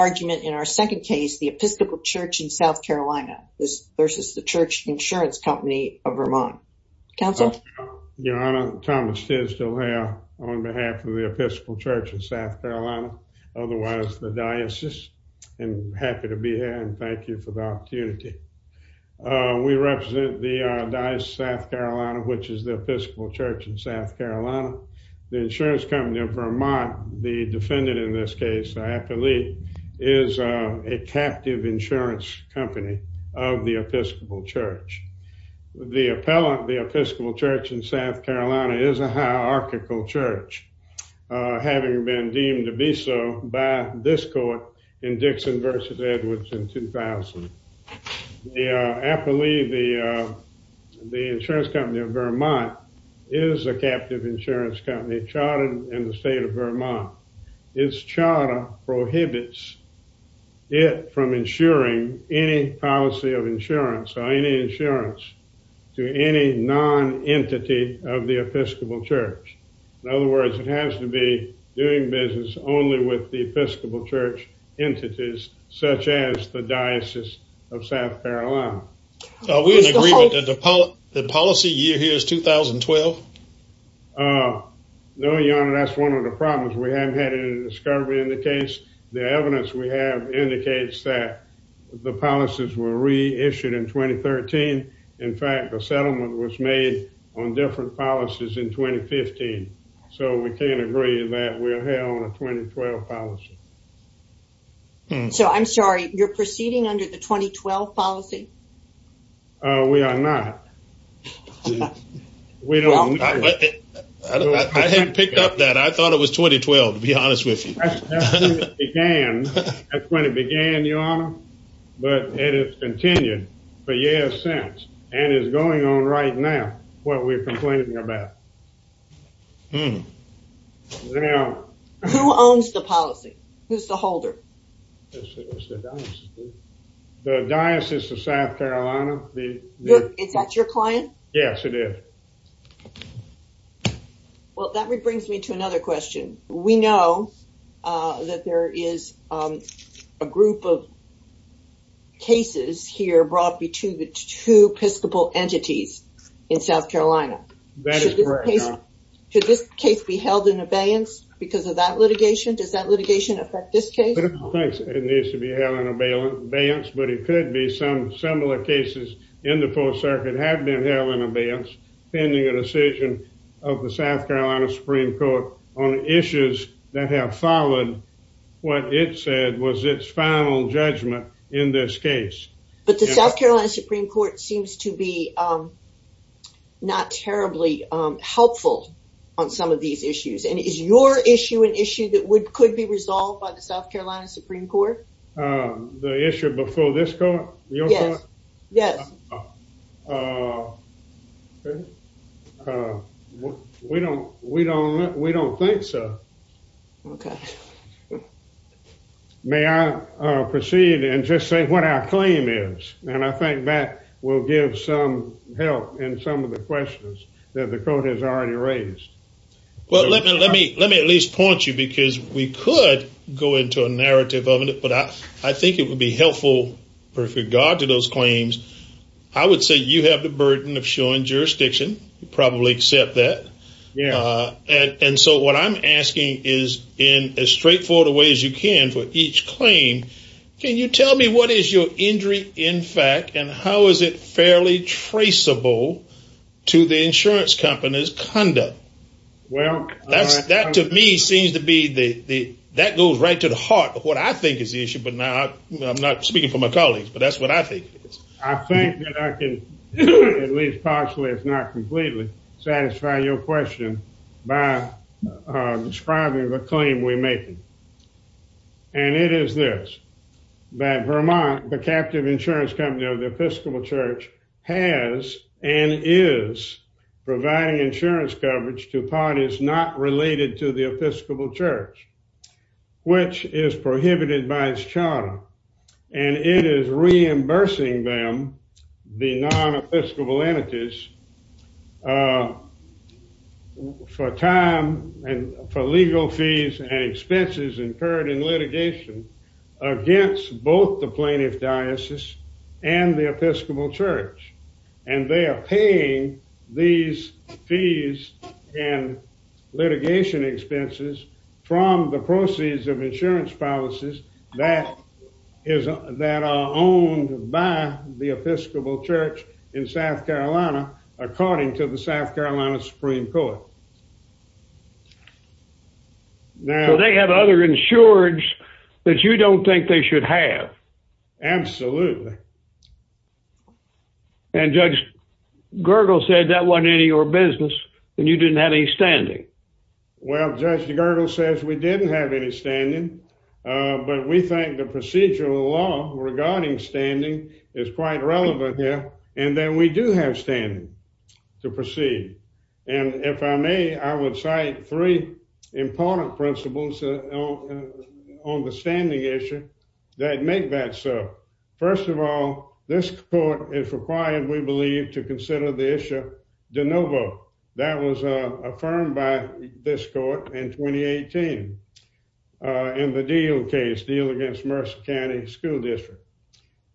in our second case, the Episcopal Church in SC versus the Church Insurance Company of VT. Council? Your Honor, Thomas Tisdale here on behalf of the Episcopal Church in SC, otherwise the diocese, and happy to be here and thank you for the opportunity. We represent the diocese of SC, which is the Episcopal Church in SC. The Insurance Company of Vermont, the defendant in this case, the appellee, is a captive insurance company of the Episcopal Church. The appellant, the Episcopal Church in SC, is a hierarchical church, having been deemed to be so by this court in Dixon v. Edwards in 2000. The appellee, the Insurance Company of Vermont, is a captive insurance company chartered in the state of Vermont. Its charter prohibits it from insuring any policy of insurance or any insurance to any non-entity of the Episcopal Church. In other words, it has to be doing business only with Episcopal Church entities, such as the Diocese of SC. Are we in agreement that the policy year here is 2012? No, Your Honor, that's one of the problems. We haven't had any discovery in the case. The evidence we have indicates that the policies were reissued in 2013. In fact, a year ago. So, I'm sorry, you're proceeding under the 2012 policy? We are not. I hadn't picked up that. I thought it was 2012, to be honest with you. That's when it began, Your Honor, but it has continued for years since and is going on right now, what we're complaining about. Who owns the policy? Who's the holder? The Diocese of SC. Is that your client? Yes, it is. Well, that brings me to another question. We know that there is a group of two Episcopal entities in SC. That is correct, Your Honor. Should this case be held in abeyance because of that litigation? Does that litigation affect this case? It needs to be held in abeyance, but it could be some similar cases in the 4th Circuit have been held in abeyance, pending a decision of the SC Supreme Court on issues that have followed what it said was its final judgment in this case. But the SC Supreme Court seems to be not terribly helpful on some of these issues, and is your issue an issue that could be resolved by the SC Supreme Court? The issue before this court? Your court? Yes. Okay. We don't think so. Okay. May I proceed and just say what our claim is? And I think that will give some help in some of the questions that the court has already raised. Well, let me at least point you because we could go into a narrative of it, but I think it would be helpful with regard to those claims I would say you have the burden of showing jurisdiction. You probably accept that. And so what I'm asking is in as straightforward a way as you can for each claim, can you tell me what is your injury in fact and how is it fairly traceable to the insurance company's conduct? Well, that to me seems to be the that goes right to the heart of what I think is the issue, I'm not speaking for my colleagues, but that's what I think. I think that I can, at least partially if not completely, satisfy your question by describing the claim we're making. And it is this, that Vermont, the captive insurance company of the Episcopal Church, has and is providing insurance coverage to parties not related to the Episcopal Church, which is prohibited by its charter, and it is reimbursing them, the non-Episcopal entities, for time and for legal fees and expenses incurred in litigation against both the plaintiff diocese and the Episcopal Church. And they are paying these fees and litigation expenses from the proceeds of insurance policies that are owned by the Episcopal Church in South Carolina, according to the South Carolina Supreme Court. So they have other insureds that you don't think they should have? Absolutely. And Judge Gergel said that wasn't any of your business, and you didn't have any standing. Well, Judge Gergel says we didn't have any standing, but we think the procedural law regarding standing is quite relevant here, and that we do have standing to proceed. And if I may, I would cite three important principles on the standing issue that make that so. First of all, this court is required, we believe, to consider the issue de novo. That was affirmed by this court in 2018 in the deal case, deal against Mercer County School District.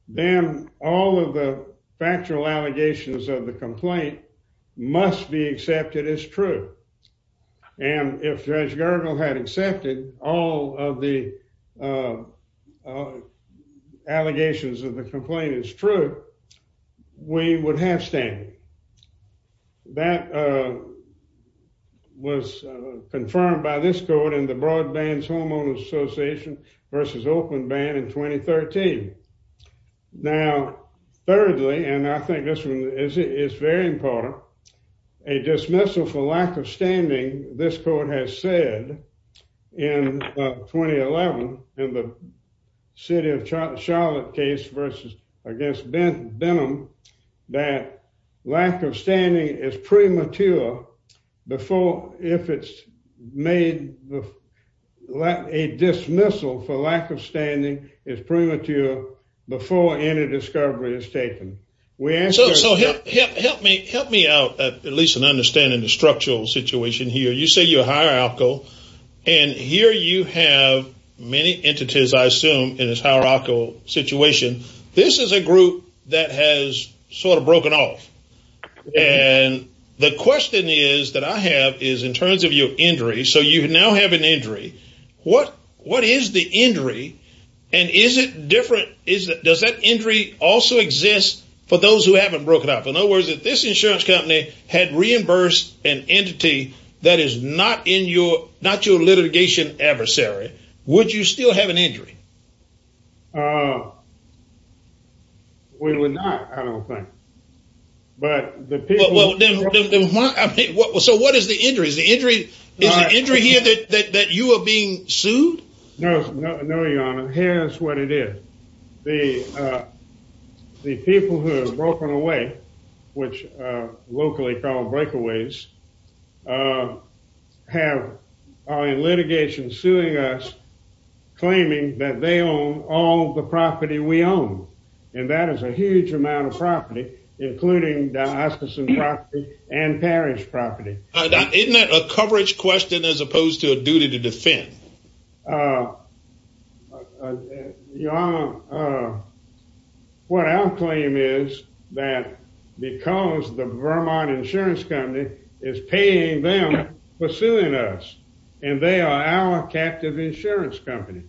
Then all of the and if Judge Gergel had accepted all of the allegations of the complainant's truth, we would have standing. That was confirmed by this court in the Broadbands Homeowners Association versus Oakland Ban in 2013. Now thirdly, and I think it's very important, a dismissal for lack of standing, this court has said in 2011 in the City of Charlotte case versus against Benham, that lack of standing is premature before if it's made, a dismissal for lack of standing is premature before any discovery is made. So help me out at least in understanding the structural situation here. You say you're hierarchical, and here you have many entities, I assume, in this hierarchical situation. This is a group that has sort of broken off, and the question is that I have is in terms of your injury, so you now have an injury. What is the injury, and is it different? Does that injury also exist for those who haven't broken up? In other words, if this insurance company had reimbursed an entity that is not your litigation adversary, would you still have an injury? We would not, I don't think. So what is the injury? Is the injury here that you are being charged with? The people who have broken away, which locally called breakaways, have in litigation suing us, claiming that they own all the property we own, and that is a huge amount of property, including Diocesan property and parish property. Isn't that a coverage question as opposed to a duty to defend? Your Honor, what our claim is that because the Vermont Insurance Company is paying them for suing us, and they are our captive insurance company.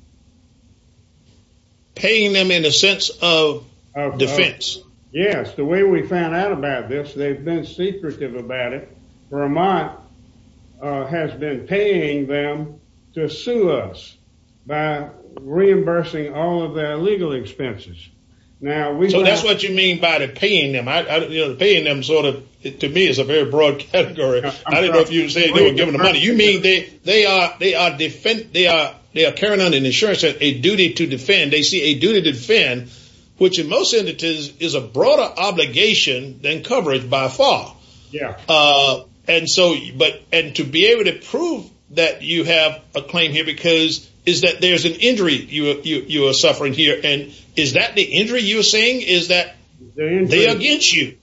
Paying them in a sense of defense? Yes, the way we found out about this, they've been secretive about it. Vermont has been paying them to sue us by reimbursing all of their legal expenses. So that's what you mean by paying them. Paying them to me is a very broad category. I don't know if you would say they were given the money. You mean they are carrying on an insurance, a duty to defend. They see a duty to defend, which in most entities is a broader obligation than coverage by far. Yeah. And to be able to prove that you have a claim here because is that there's an injury you are suffering here, and is that the injury you're saying? Is that they're against you?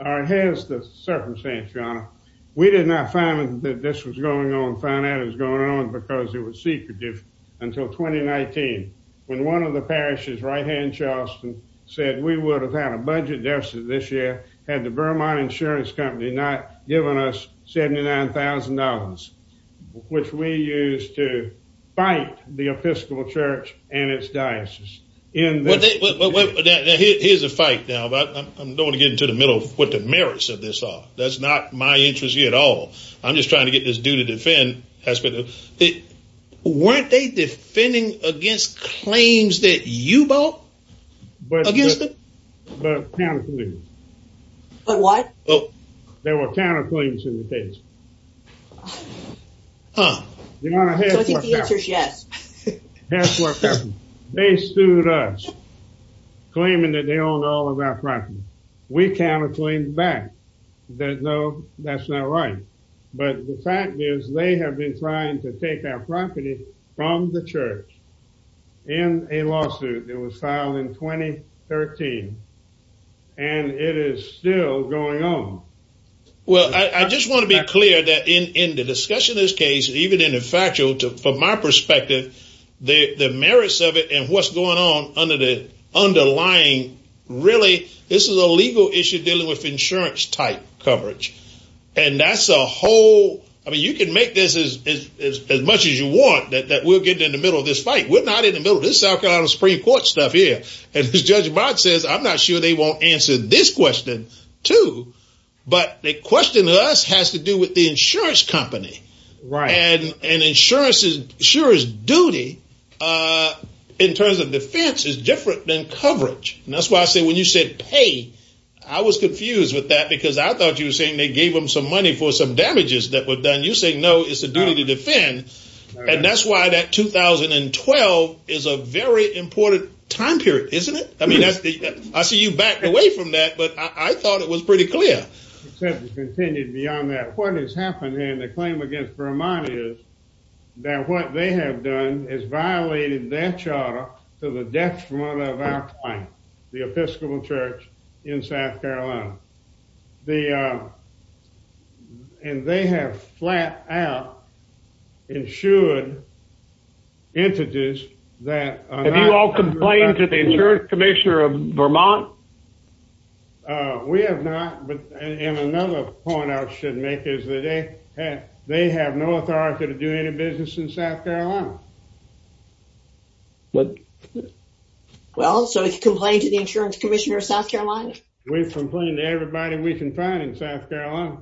It has the circumstance, Your Honor. We did not find that this was going on, found out it was going on, because it was secretive until 2019, when one of the parishes right here in Charleston said we would have had a budget deficit this year had the Vermont insurance company not given us $79,000, which we used to fight the Episcopal Church and its diocese. Now here's the fight now, but I'm going to get into the middle of what the merits of this are. That's not my interest here at all. I'm just trying to get this duty to defend. Weren't they defending against claims that you bought against them? But counterclaims. But what? There were counterclaims in the case. Huh. The answer is yes. They sued us, claiming that they own all of our property. We counterclaimed back that no, that's not right. But the fact is they have been trying to take our property from the church in a lawsuit that was filed in 2013, and it is still going on. Well, I just want to be clear that in the discussion of this case, even in the factual, from my perspective, the merits of it and what's going on under the underlying, really, this is a legal issue dealing with insurance type coverage. And that's a whole, I mean, you can make this as much as you want that we'll get in the middle of this fight. We're not in the middle of this South Carolina Supreme Court stuff here. And as Judge Barrett says, I'm not sure they won't answer this question too. But the question to us has to do with the insurance Right. And insurance duty in terms of defense is different than coverage. And that's why I said when you said pay, I was confused with that because I thought you were saying they gave them some money for some damages that were done. You say no, it's a duty to defend. And that's why that 2012 is a very important time period, isn't it? I mean, I see you backed away from that, but I thought it was pretty clear. Except it's continued beyond that. What has happened here in the claim against Vermont is that what they have done is violated their charter to the detriment of our client, the Episcopal Church in South Carolina. And they have flat out insured entities that- Have you all complained to the insurance commissioner of Vermont? We have not. And another point I should make is that they have no authority to do any business in South Carolina. Well, so did you complain to the insurance commissioner of South Carolina? We've complained to everybody we can find in South Carolina.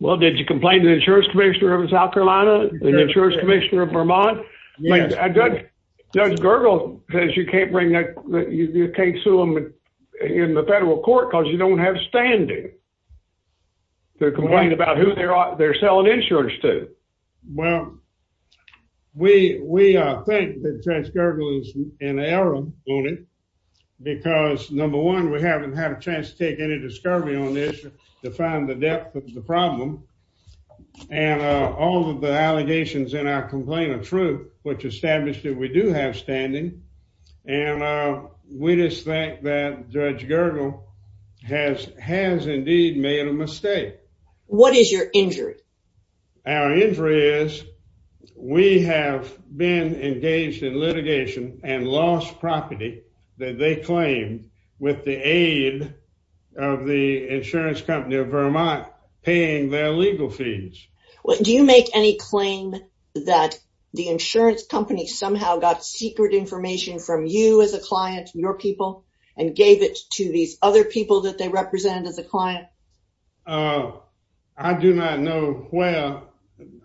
Well, did you complain to the insurance commissioner of South Carolina? The insurance commissioner of Vermont? Judge Gergel says you can't bring that, you can't sue them in the federal court because you don't have standing to complain about who they're selling insurance to. Well, we think that Judge Gergel is in error on it because number one, we haven't had a chance to take any discovery on this to find the depth of the problem. And all of the allegations in our complaint are true, which established that we do have standing. And we just think that Judge Gergel has indeed made a mistake. What is your injury? Our injury is we have been engaged in litigation and lost property that they claim with the aid of the insurance company of Vermont paying their legal fees. Do you make any claim that the insurance company somehow got secret information from you as a client, your people, and gave it to these other people that they represented as a client? I do not know. Well,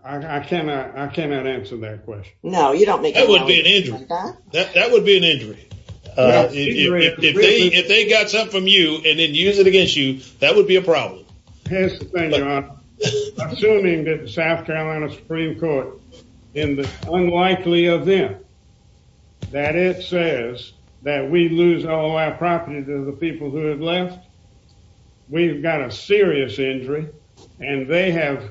I cannot answer that question. No, you don't make it. That would be an injury. If they got something from you and then use it against you, that would be a problem. Assuming that the South Carolina Supreme Court, in the unlikely event that it says that we lose all our property to the people who have left, we've got a serious injury. And they have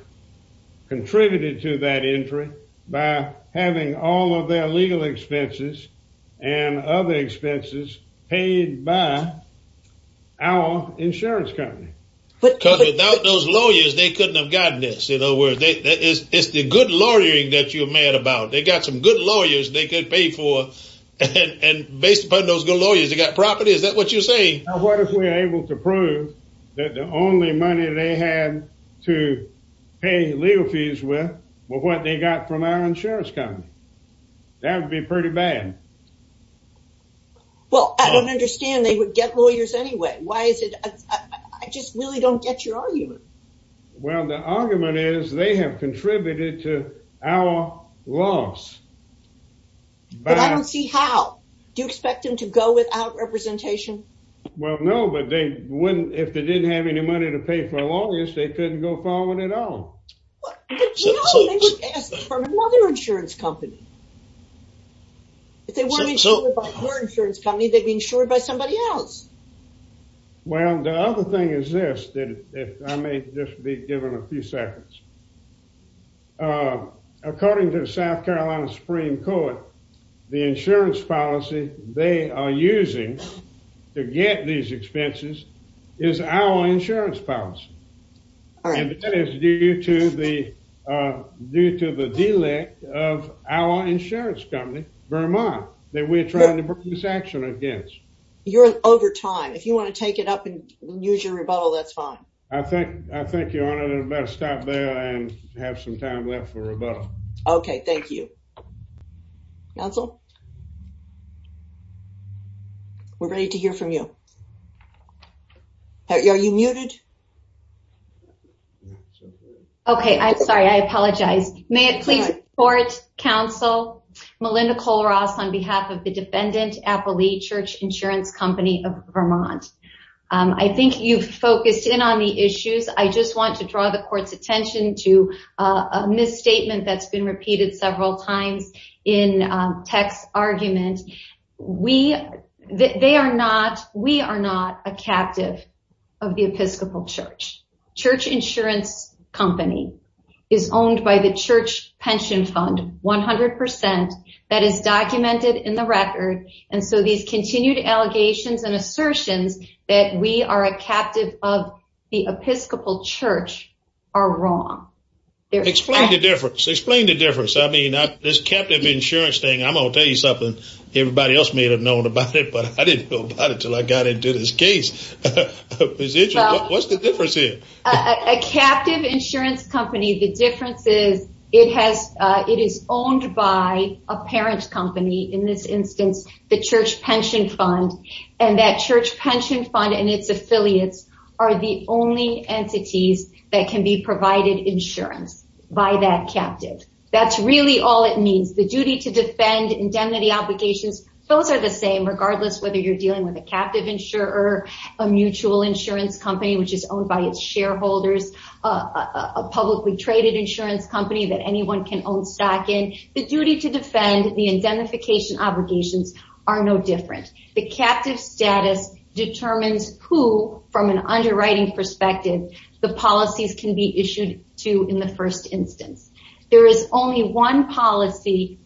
contributed to that injury by having all of their legal expenses and other expenses paid by our insurance company. Because without those lawyers, they couldn't have gotten this. In other words, it's the good lawyering that you're mad about. They got some good lawyers they could pay for. And based upon those good lawyers, they got property. Is that what you're saying? What if we're able to prove that the only money they had to pay legal fees with was what they got from our insurance company? That would be pretty bad. Well, I don't understand. They would get lawyers anyway. Why is it? I just really don't get your argument. Well, the argument is they have contributed to our loss. But I don't see how. Do you expect them to go without representation? Well, no. But if they didn't have any money to pay for the longest, they couldn't go following it on. They would ask for another insurance company. If they weren't insured by your insurance company, they'd be insured by somebody else. Well, the other thing is this. I may just be given a few seconds. According to the South Carolina Supreme Court, the insurance policy they are using to get these expenses is our insurance policy. And that is due to the delay of our insurance company, Vermont, that we're trying to bring this action against. You're over time. If you want to take it up and use your rebuttal, that's fine. I think you ought to stop there and have some time left for rebuttal. Okay. Thank you. Counsel? We're ready to hear from you. Are you muted? Okay. I'm sorry. I apologize. May it please support counsel Melinda Cole-Ross on behalf of the defendant, Appalichurch Insurance Company of Vermont. I think you've focused in on the repeated several times in tech's argument. We are not a captive of the Episcopal church. Church insurance company is owned by the church pension fund, 100%. That is documented in the record. And so these continued allegations and assertions that we are a captive of the Episcopal church are wrong. Explain the difference. I mean, this captive insurance thing, I'm going to tell you something. Everybody else may have known about it, but I didn't know about it until I got into this case. What's the difference here? A captive insurance company, the difference is it is owned by a parent's company. In this instance, the church pension fund and that church pension fund and its affiliates are the only entities that can be provided insurance by that captive. That's really all it means. The duty to defend indemnity obligations, those are the same, regardless whether you're dealing with a captive insurer, a mutual insurance company, which is owned by its shareholders, a publicly traded insurance company that anyone can own stock in. The duty to defend the indemnification obligations are no different. The captive status determines who, from an underwriting perspective, the policies can be issued to in the first instance. There is only one policy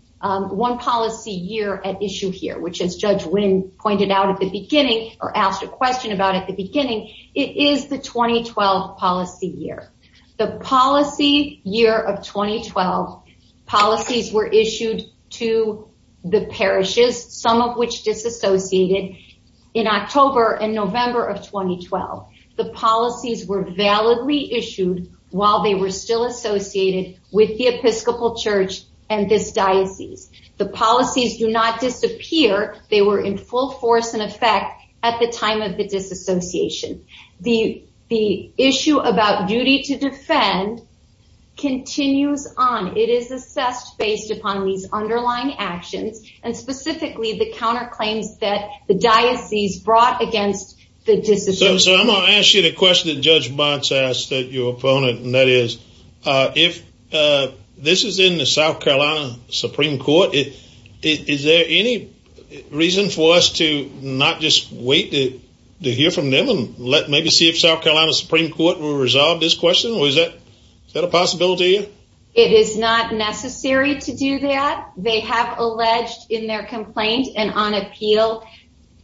year at issue here, which as Judge Wynn pointed out at the beginning or asked a question about at the some of which disassociated in October and November of 2012. The policies were validly issued while they were still associated with the Episcopal church and this diocese. The policies do not disappear. They were in full force and effect at the time of the disassociation. The issue about duty to defend continues on. It is assessed based upon these underlying actions and specifically the counterclaims that the diocese brought against the disassociation. I'm going to ask you the question that Judge Bonds asked your opponent. This is in the South Carolina Supreme Court. Is there any reason for us to not just wait to hear from them and maybe see if South Carolina Supreme Court will resolve this question? Is that a possibility? It is not necessary to do that. They have alleged in their complaint and on appeal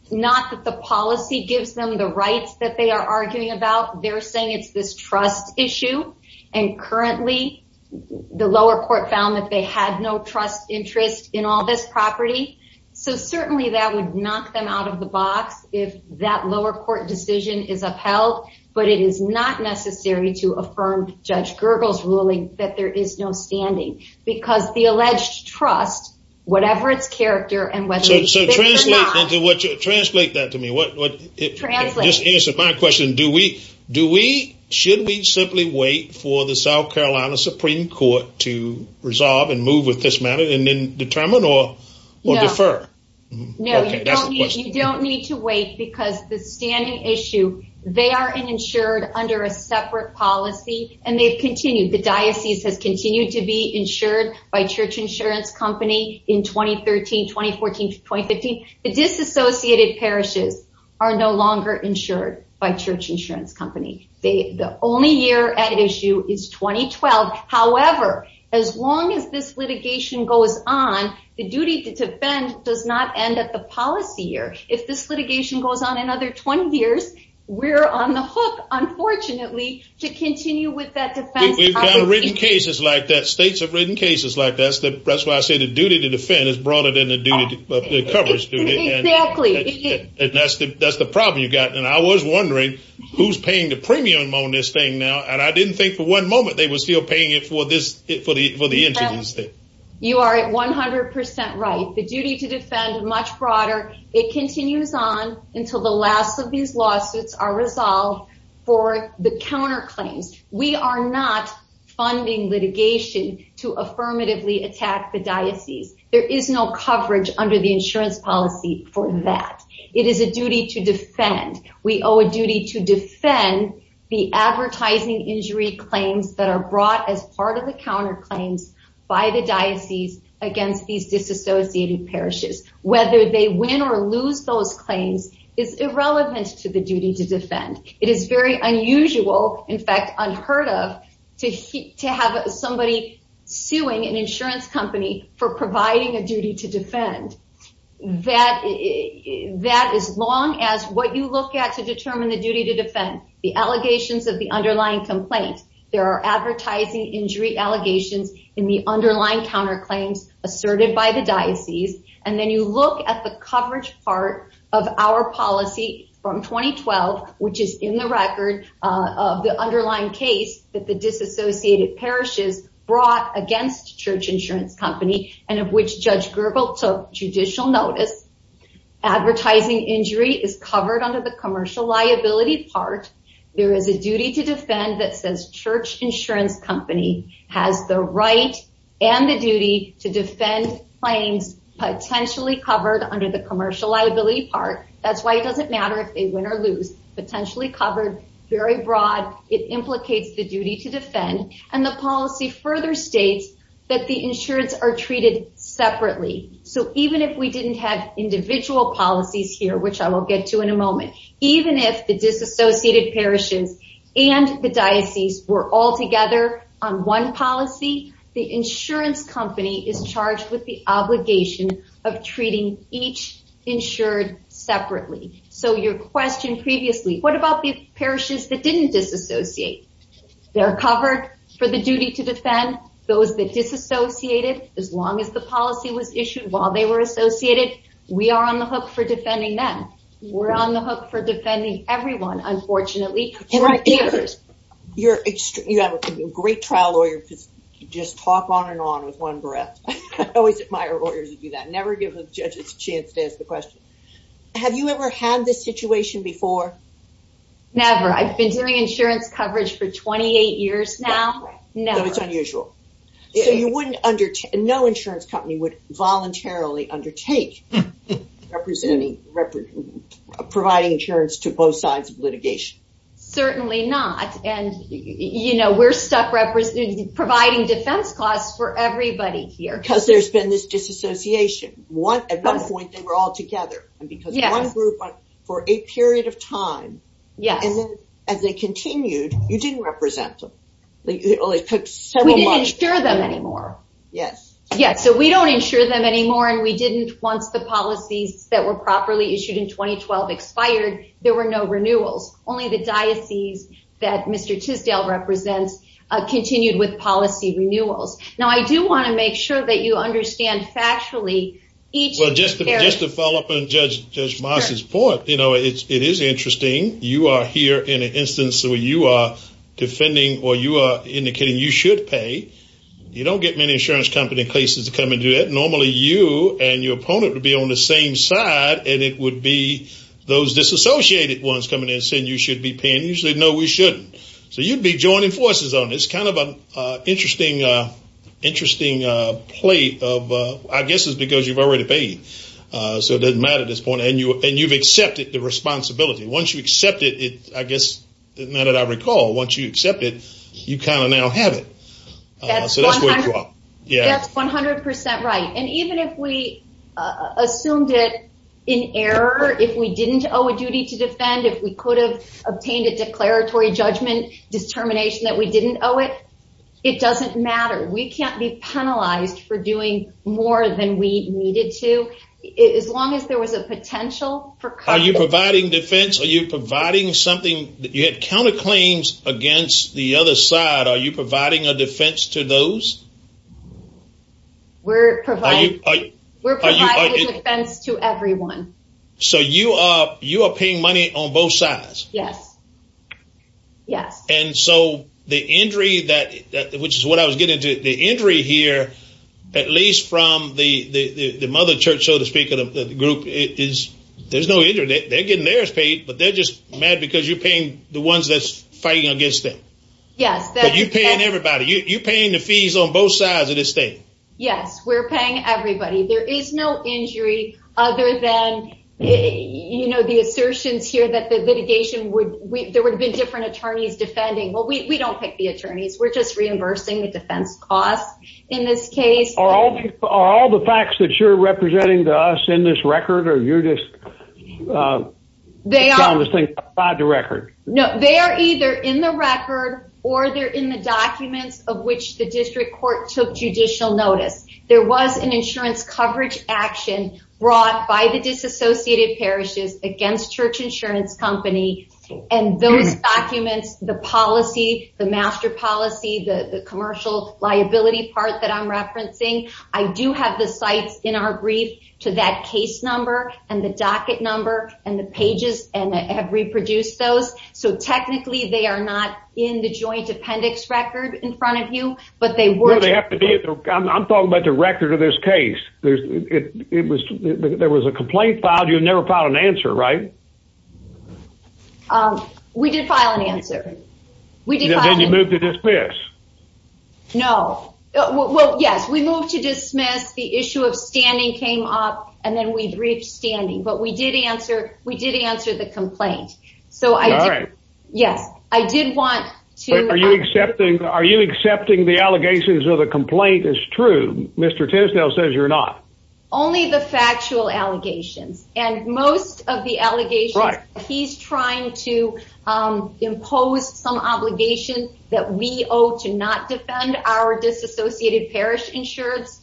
not that the policy gives them the rights that they are arguing about. They're saying it's this trust issue and currently the lower court found that they had no trust interest in all this property. Certainly that would knock them out of the box if that lower court decision is upheld, but it is not necessary to affirm Judge Gergel's ruling that there is no standing because the alleged trust, whatever its character and whether it's... So translate that to me. Just answer my question. Should we simply wait for the South Carolina Supreme Court to resolve and move with this matter and then determine or defer? No, you don't need to wait because the standing issue, they are insured under a separate policy and they've continued. The diocese has continued to be insured by church insurance company in 2013, 2014, 2015. The disassociated parishes are no longer insured by church insurance company. The only year at issue is 2012. However, as long as this litigation goes on, the duty to defend does not end at the policy year. If this litigation goes on another 20 years, we're on the hook, unfortunately, to continue with that defense. We've got written cases like that. States have written cases like that. That's why I say the duty to defend is broader than the coverage duty. Exactly. That's the problem you've got. And I was wondering who's paying the premium on this thing now. And I didn't think for one moment they were still paying it for the interest. You are at 100% right. The duty to defend is much broader. It continues on until the last of these lawsuits are resolved for the counterclaims. We are not funding litigation to affirmatively attack the diocese. There is no coverage under the insurance policy for that. It is a duty to defend. We owe a duty to defend the advertising injury claims that are brought as part of the counter claims by the diocese against these disassociated parishes. Whether they win or lose those claims is irrelevant to the duty to defend. It is very unusual, in fact, unheard of, to have somebody suing an insurance company for providing a duty to defend. That as long as what you look at to determine the duty to defend, the allegations of the underlying complaint, there are advertising injury allegations in the underlying counter claims asserted by the diocese. And then you look at the coverage part of our policy from 2012, which is in the record of the underlying case that the disassociated parishes brought against Church Insurance Company and of which Judge Gergel took judicial notice. Advertising injury is covered under the commercial liability part. There is a duty to defend that says Church Insurance Company has the right and the duty to defend claims potentially covered under the commercial liability part. That's why it doesn't matter if they win or lose. Potentially covered, very broad, it implicates the duty to defend. And the policy further states that the insurance are treated separately. So even if we didn't have and the diocese were all together on one policy, the insurance company is charged with the obligation of treating each insured separately. So your question previously, what about the parishes that didn't disassociate? They're covered for the duty to defend. Those that disassociated, as long as the policy was issued while they were associated, we are on the hook for defending them. We're on the hook for defending everyone, unfortunately. You're a great trial lawyer because you just talk on and on with one breath. I always admire lawyers who do that. Never give a judge a chance to ask the question. Have you ever had this situation before? Never. I've been doing insurance coverage for 28 years now. No, it's unusual. So you wouldn't no insurance company would voluntarily undertake providing insurance to both sides of litigation. Certainly not. And we're stuck providing defense costs for everybody here. Because there's been this disassociation. At one point, they were all together. And because one group for a period of time, and then as they continued, you didn't represent them. It only took several months. We didn't insure them anymore. Yes. Yes. So we don't insure them anymore. And we didn't, once the policies that were properly issued in 2012 expired, there were no renewals. Only the diocese that Mr. Tisdale represents continued with policy renewals. Now, I do want to make sure that you understand factually each- Well, just to follow up on Judge Moss's point, it is interesting. You are here in an instance where you are defending or you are indicating you should pay. You don't get many insurance company cases to come and do it. Normally, you and your opponent would be on the same side, and it would be those disassociated ones coming in and saying you should be paying. Usually, no, we shouldn't. So you'd be joining forces on this. It's kind of an interesting play of- I guess it's because you've already paid. So it doesn't matter at this point. And you've accepted the policy. Once you accept it, you kind of now have it. That's 100% right. And even if we assumed it in error, if we didn't owe a duty to defend, if we could have obtained a declaratory judgment determination that we didn't owe it, it doesn't matter. We can't be penalized for doing more than we needed to. As long as there was a potential for- Are you providing defense? Are you providing something that you had counterclaims against the other side? Are you providing a defense to those? We're providing a defense to everyone. So you are paying money on both sides? Yes. Yes. And so the injury that- which is what I was getting to. The injury here, at least from the mother church, so to speak, of the group, there's no injury. They're getting paid, but they're just mad because you're paying the ones that's fighting against them. Yes. But you're paying everybody. You're paying the fees on both sides of the state. Yes. We're paying everybody. There is no injury other than the assertions here that the litigation would- there would have been different attorneys defending. Well, we don't pick the attorneys. We're just reimbursing the defense costs in this case. Are all the facts that you're representing to us in this record? Or you're just- They are- You found this thing tied to record? No. They are either in the record, or they're in the documents of which the district court took judicial notice. There was an insurance coverage action brought by the disassociated parishes against Church Insurance Company. And those documents, the policy, the master policy, the commercial liability part that I'm referring to, that case number, and the docket number, and the pages, and have reproduced those. So technically, they are not in the joint appendix record in front of you, but they were- They have to be. I'm talking about the record of this case. There was a complaint filed. You never filed an answer, right? We did file an answer. We did file- Then you moved to dismiss. No. Well, yes. We moved to dismiss. The issue of standing came up, and then we reached standing. But we did answer the complaint. So I did- All right. Yes. I did want to- Are you accepting the allegations of the complaint as true? Mr. Tisdale says you're not. Only the factual allegations. And most of the allegations, he's trying to impose some obligation that we owe to not defend our disassociated parish insureds.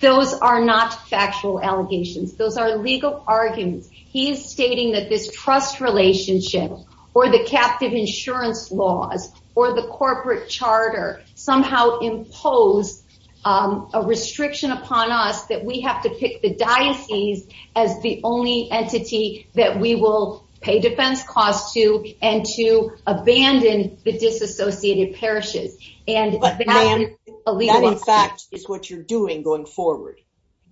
Those are not factual allegations. Those are legal arguments. He is stating that this trust relationship, or the captive insurance laws, or the corporate charter, somehow impose a restriction upon us that we have to pick the diocese as the only entity that we will pay defense costs to, and to abandon the disassociated parishes. And- That's what you're doing going forward.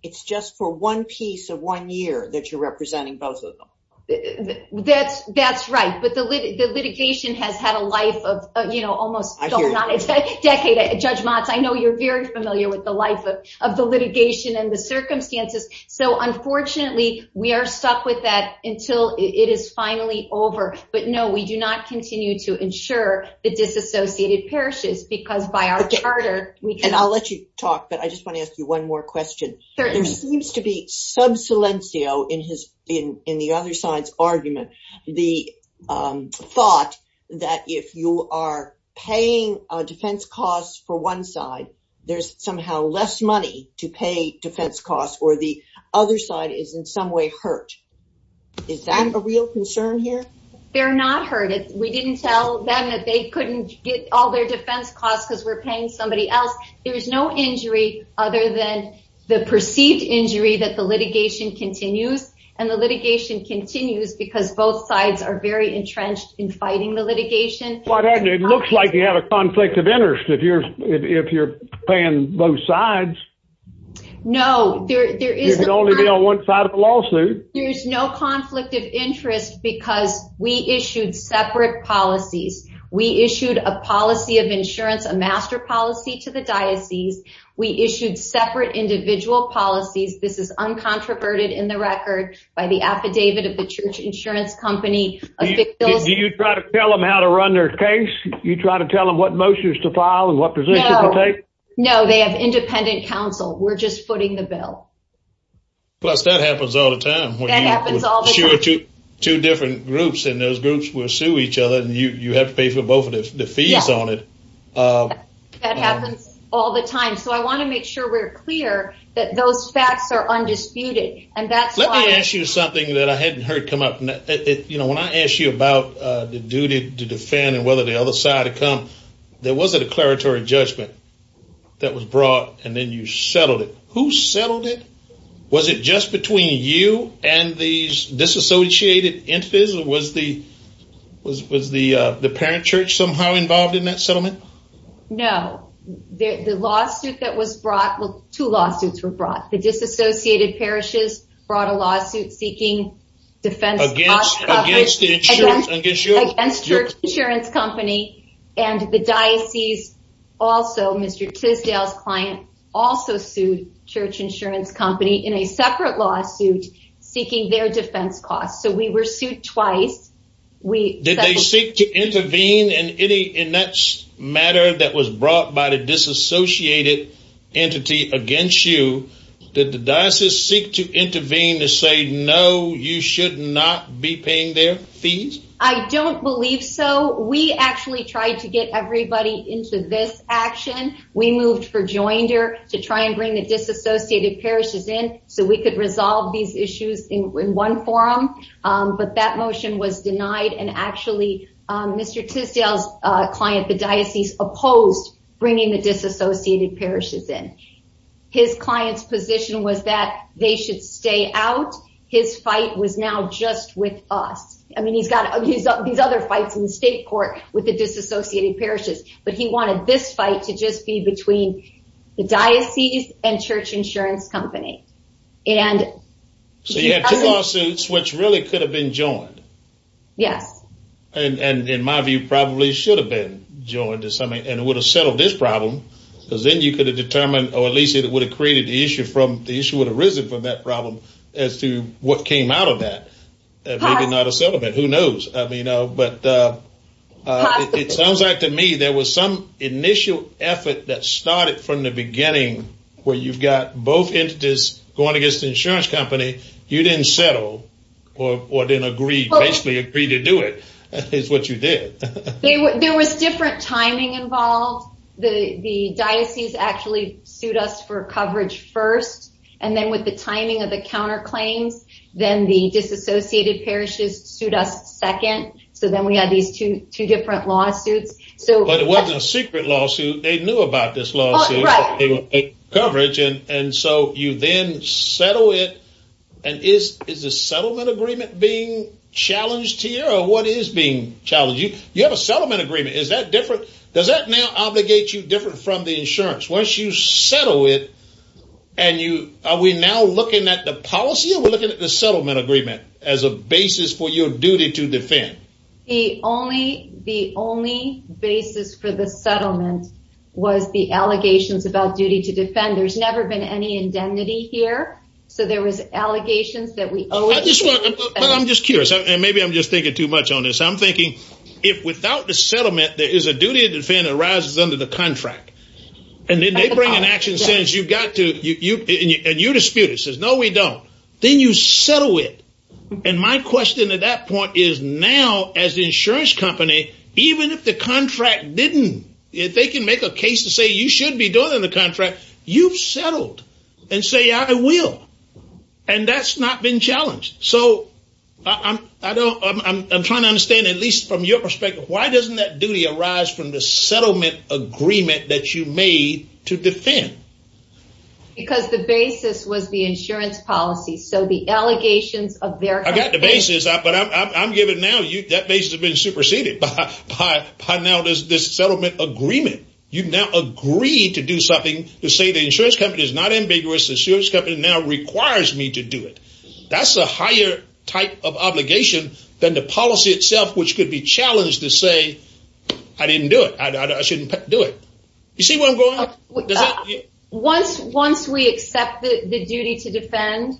It's just for one piece of one year that you're representing both of them. That's right. But the litigation has had a life of almost- I hear you. Decades. Judge Motz, I know you're very familiar with the life of the litigation and the circumstances. So unfortunately, we are stuck with that until it is finally over. But no, we do not continue to insure the disassociated parishes, because by our charter, we can- I'll let you talk, but I just want to ask you one more question. There seems to be subsilenceo in the other side's argument, the thought that if you are paying defense costs for one side, there's somehow less money to pay defense costs, or the other side is in some way hurt. Is that a real concern here? They're not hurt. We didn't tell them that they couldn't get all their defense costs because we're paying somebody else. There's no injury other than the perceived injury that the litigation continues. And the litigation continues because both sides are very entrenched in fighting the litigation. Well, it looks like you have a conflict of interest if you're paying both sides. No, there is- You can only be on one side of the lawsuit. There's no conflict of interest because we issued separate policies. We issued a policy of insurance, a master policy to the diocese. We issued separate individual policies. This is uncontroverted in the record by the affidavit of the church insurance company. Do you try to tell them how to run their case? Do you try to tell them what motions to file and what position to take? No, they have independent counsel. We're just footing the bill. Plus, that happens all the time. Two different groups and those groups will sue each other and you have to pay for both of the fees on it. That happens all the time. So I want to make sure we're clear that those facts are undisputed. Let me ask you something that I hadn't heard come up. When I asked you about the duty to defend and whether the other side had come, there was a declaratory judgment that was brought and then who settled it? Was it just between you and these disassociated entities? Was the parent church somehow involved in that settlement? No. The lawsuit that was brought, two lawsuits were brought. The disassociated parishes brought a lawsuit seeking defense against the church insurance company and the diocese Mr. Tisdale's client also sued church insurance company in a separate lawsuit seeking their defense costs. So we were sued twice. Did they seek to intervene in that matter that was brought by the disassociated entity against you? Did the diocese seek to intervene to say, no, you should not be paying their fees? I don't believe so. We actually tried to get everybody into this action. We moved for joinder to try and bring the disassociated parishes in so we could resolve these issues in one forum. But that motion was denied and actually Mr. Tisdale's client, the diocese opposed bringing the disassociated parishes in. His client's position was that they should stay out. His fight was now just with us. I mean, he's got these other fights in the state court with the disassociated parishes, but he wanted this fight to just be between the diocese and church insurance company. So you had two lawsuits which really could have been joined. Yes. And in my view, probably should have been joined to something and it would have settled this problem because then you could have determined, or at least it would have created the issue from the issue would have come out of that. Maybe not a settlement. Who knows? I mean, but it sounds like to me, there was some initial effort that started from the beginning where you've got both entities going against the insurance company. You didn't settle or didn't agree, basically agree to do it, is what you did. There was different timing involved. The diocese actually sued us for the disassociated parishes sued us second. So then we had these two different lawsuits. So, but it wasn't a secret lawsuit. They knew about this lawsuit coverage. And so you then settle it. And is, is the settlement agreement being challenged to you or what is being challenging? You have a settlement agreement. Is that different? Does that now obligate you different from the insurance? Once you settle it and you, are we now looking at the policy or we're looking at the settlement agreement as a basis for your duty to defend? The only, the only basis for the settlement was the allegations about duty to defend. There's never been any indemnity here. So there was allegations that we owe. I'm just curious. And maybe I'm just thinking too much on this. I'm thinking if without the settlement, there is a duty to defend arises under the contract and then they bring an action sentence. You've got to, and you dispute it. It says, no, we don't. Then you settle it. And my question at that point is now as insurance company, even if the contract didn't, if they can make a case to say you should be doing the contract, you've settled and say, I will. And that's not been challenged. So I don't, I'm trying to understand at least from your perspective, why doesn't that Because the basis was the insurance policy. So the allegations of their, I've got the basis, but I'm, I'm, I'm giving now you that basis have been superseded by, by, by now does this settlement agreement. You've now agreed to do something to say the insurance company is not ambiguous. The insurance company now requires me to do it. That's a higher type of obligation than the policy itself, which could be challenged to say, I didn't do it. I shouldn't do it. You see where I'm going? So once, once we accept the duty to defend,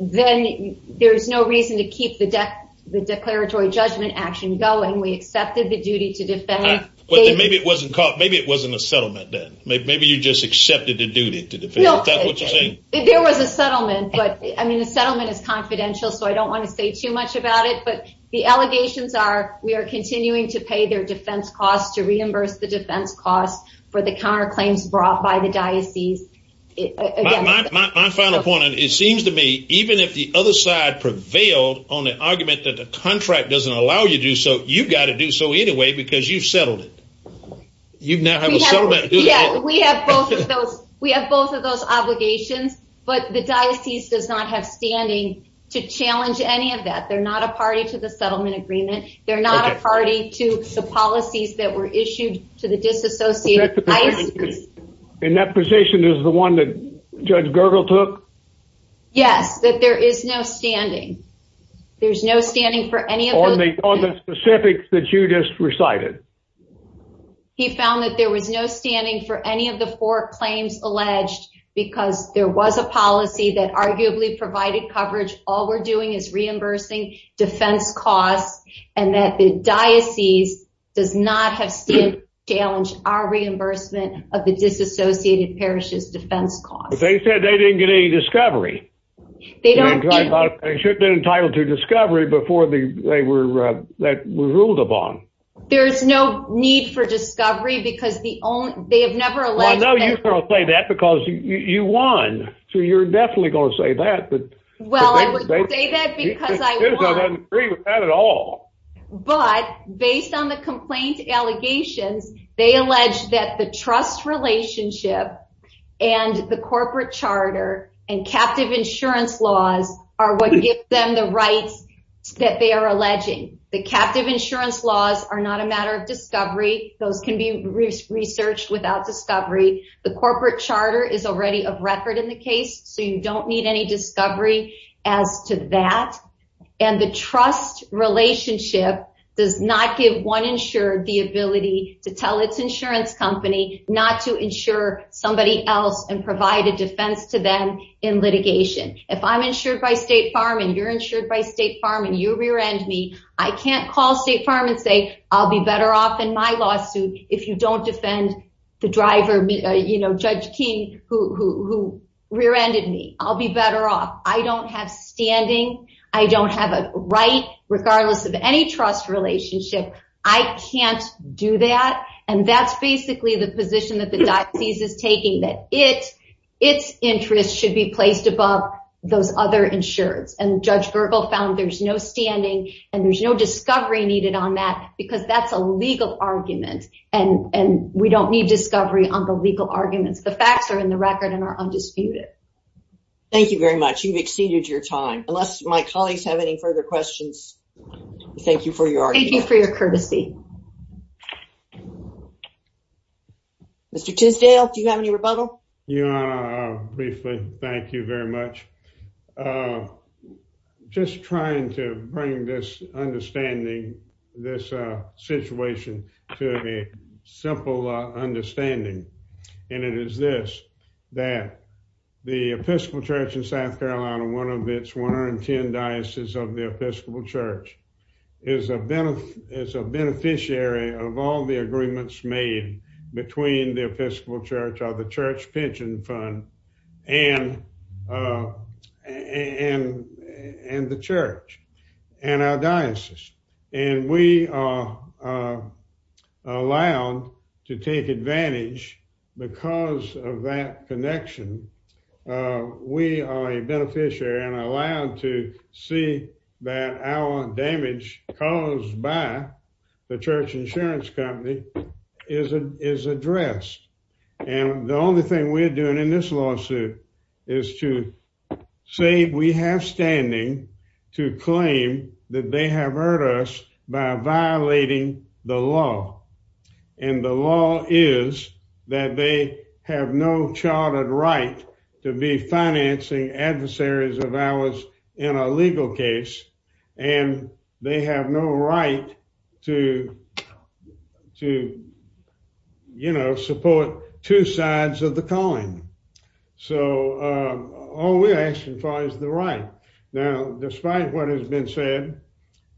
then there's no reason to keep the deck, the declaratory judgment action going. We accepted the duty to defend. But then maybe it wasn't caught. Maybe it wasn't a settlement then. Maybe you just accepted the duty to defend. There was a settlement, but I mean, the settlement is confidential. So I don't want to say too much about it, but the allegations are, we are continuing to pay their defense costs to reimburse the defense costs for the counterclaims brought by the diocese. My final point, and it seems to me, even if the other side prevailed on the argument that the contract doesn't allow you to do so, you've got to do so anyway, because you've settled it. You've now have a settlement. Yeah, we have both of those. We have both of those obligations, but the diocese does not have standing to challenge any of that. They're not a party to the settlement agreement. They're not a party to the policies that were issued to the disassociated- In that position is the one that Judge Gergel took? Yes, that there is no standing. There's no standing for any of those- On the specifics that you just recited. He found that there was no standing for any of the four claims alleged because there was a policy that arguably provided coverage. All we're doing is reimbursing defense costs, and that the diocese does not have standing to challenge our reimbursement of the disassociated parish's defense costs. They said they didn't get any discovery. They don't- They should've been entitled to discovery before they were ruled upon. There's no need for discovery because they have never alleged- I know you're going to say that because you won, so you're definitely going to say that, but- Well, I would say that because I won. I don't agree with that at all. But based on the complaint allegations, they allege that the trust relationship and the corporate charter and captive insurance laws are what give them the rights that they are alleging. The captive insurance laws are not a matter of discovery. Those can be researched without discovery. The corporate charter is already of record in the case, so you don't need any discovery as to that. And the trust relationship does not give one insured the ability to tell its insurance company not to insure somebody else and provide a defense to them in litigation. If I'm insured by State Farm and you're insured by State Farm and you rear-end me, I can't call State Farm and say, I'll be better off in my lawsuit if you don't defend the driver, Judge King, who rear-ended me. I'll be better off. I don't have standing. I don't have a right, regardless of any trust relationship. I can't do that. And that's basically the position that the diocese is taking, that its interests should be placed above those other insureds. And Judge Gergel found there's no standing and there's no discovery needed on that, because that's a legal argument. And we don't need discovery on the legal arguments. The facts are in the record and are undisputed. Thank you very much. You've exceeded your time. Unless my colleagues have any further questions, thank you for your argument. Thank you for your courtesy. Mr. Tisdale, do you have any rebuttal? Yeah, briefly. Thank you very much. Just trying to bring this understanding, this situation, to a simple understanding. And it is this, that the Episcopal Church in South Carolina, one of its 110 dioceses of the Episcopal Church, is a beneficiary of all the agreements made between the Episcopal Church or the church pension fund and the church and our diocese. And we are allowed to take advantage because of that connection. We are a beneficiary and allowed to see that our damage caused by the church insurance company is addressed. And the only thing we're doing in this lawsuit is to say we have standing to claim that they have hurt us by violating the law. And the law is that they have no chartered right to be financing adversaries of ours in a legal case. And they have no right to, you know, support two sides of the coin. So, all we're asking for is the right. Now, despite what has been said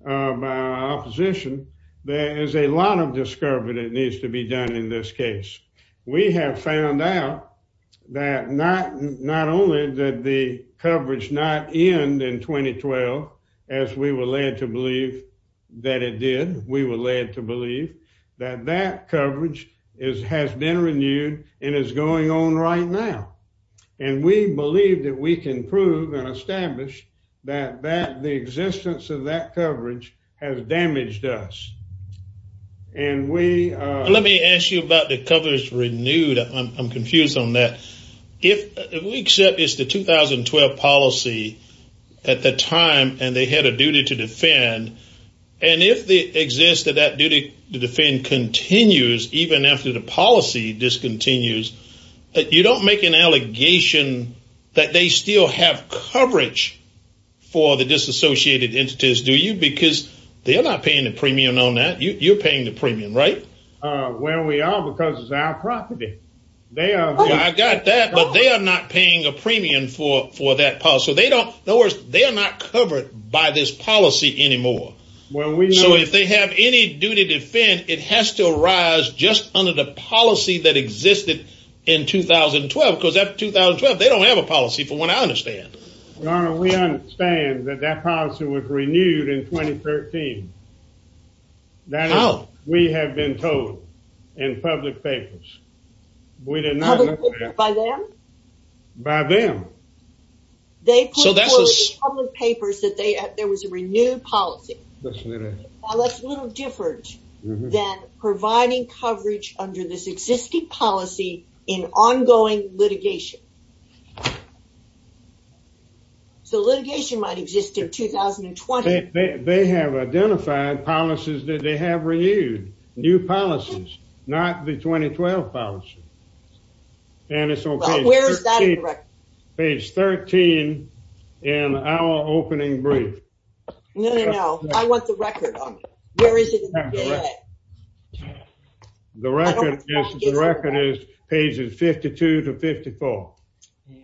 by our opposition, there is a lot of discovery that needs to be done in this case. We have found out that not only did the coverage not end in 2012, as we were led to believe that it did, we were led to believe that that coverage has been renewed and is going on right now. And we believe that we can prove and establish that the existence of that coverage has damaged us. And we... Let me ask you about the coverage renewed. I'm confused on that. If we accept it's the 2012 policy at the time, and they had a duty to defend, and if the existence of that duty to defend continues, even after the policy discontinues, you don't make an allegation that they still have a duty to defend? Well, we understand that that policy was renewed in 2013. That is, we have been told in public papers. We did not know that. By them? By them. They put forward in public papers that there was a renewed policy. That's a little different than providing coverage under this existing policy in ongoing litigation. So, litigation might exist in 2020. They have identified policies that they have renewed, new policies, not the 2012 policy. And it's okay. Well, where is that in the record? Page 13 in our opening brief. No, no, no. I want the record on it. Where is it? The record is pages 52 to 54.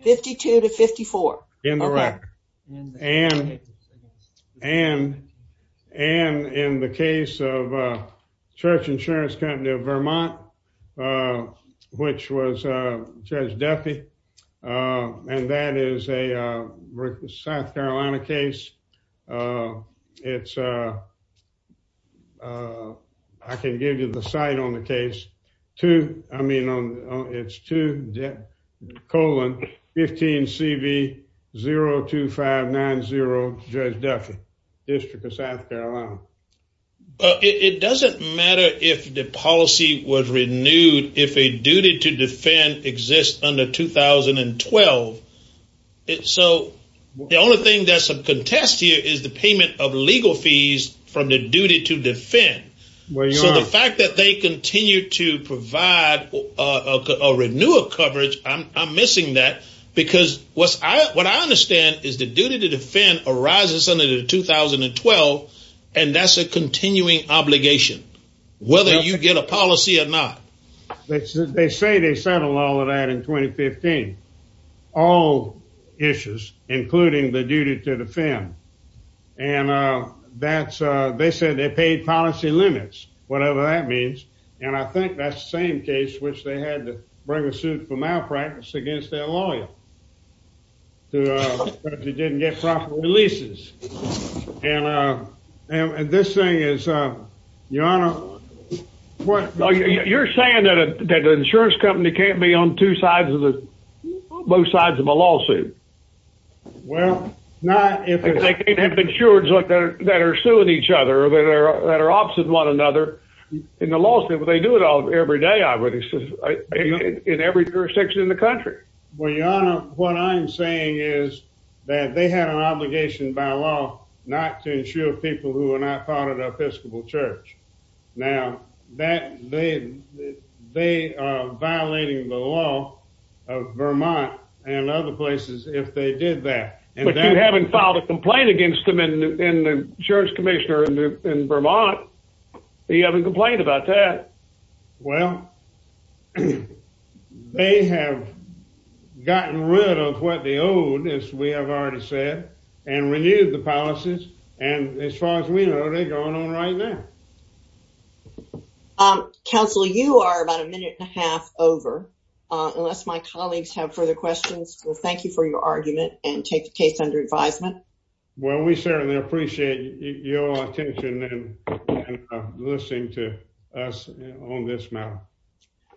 52 to 54. In the record. And in the case of Church Insurance Company of Vermont, which was Judge Duffy, and that is a South Carolina case. I can give you the site on the case. I mean, it's 2-15-CV-02590, Judge Duffy, District of South Carolina. But it doesn't matter if the policy was renewed, if a duty to defend exists under 2012. So, the only thing that's a contest here is the payment of legal fees from the duty to defend. So, the fact that they continue to provide or renew a coverage, I'm missing that. Because what I understand is the duty to defend arises under the 2012, and that's a continuing obligation, whether you get a policy or not. They say they settled all of that in 2015. All issues, including the duty to defend. And they said they paid policy limits, whatever that means. And I think that's the same case in which they had to bring a suit for malpractice against their lawyer because he didn't get proper releases. And this thing is, Your Honor... You're saying that an insurance company can't be on both sides of a lawsuit? Well, not if... They can't have insurers that are suing each other, that are opposite one another. In the law, they do it every day, I would assume, in every jurisdiction in the country. Well, Your Honor, what I'm saying is that they had an obligation by law not to insure people who are not part of the Episcopal Church. Now, they are violating the law of Vermont and other places if they did that. But you haven't filed a complaint against them in the insurance commissioner in Vermont. You haven't complained about that. Well, they have gotten rid of what they owed, as we have already said, and renewed the policies. And as far as we know, they're going on right now. Counsel, you are about a minute and a half over. Unless my colleagues have further questions, we'll thank you for your argument and take the case under advisement. Well, we certainly appreciate your attention and listening to us on this matter.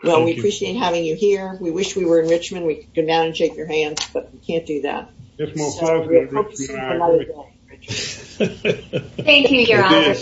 Well, we appreciate having you here. We wish we were in Richmond. We could go down and shake your hand, but we can't do that. Thank you, Your Honor.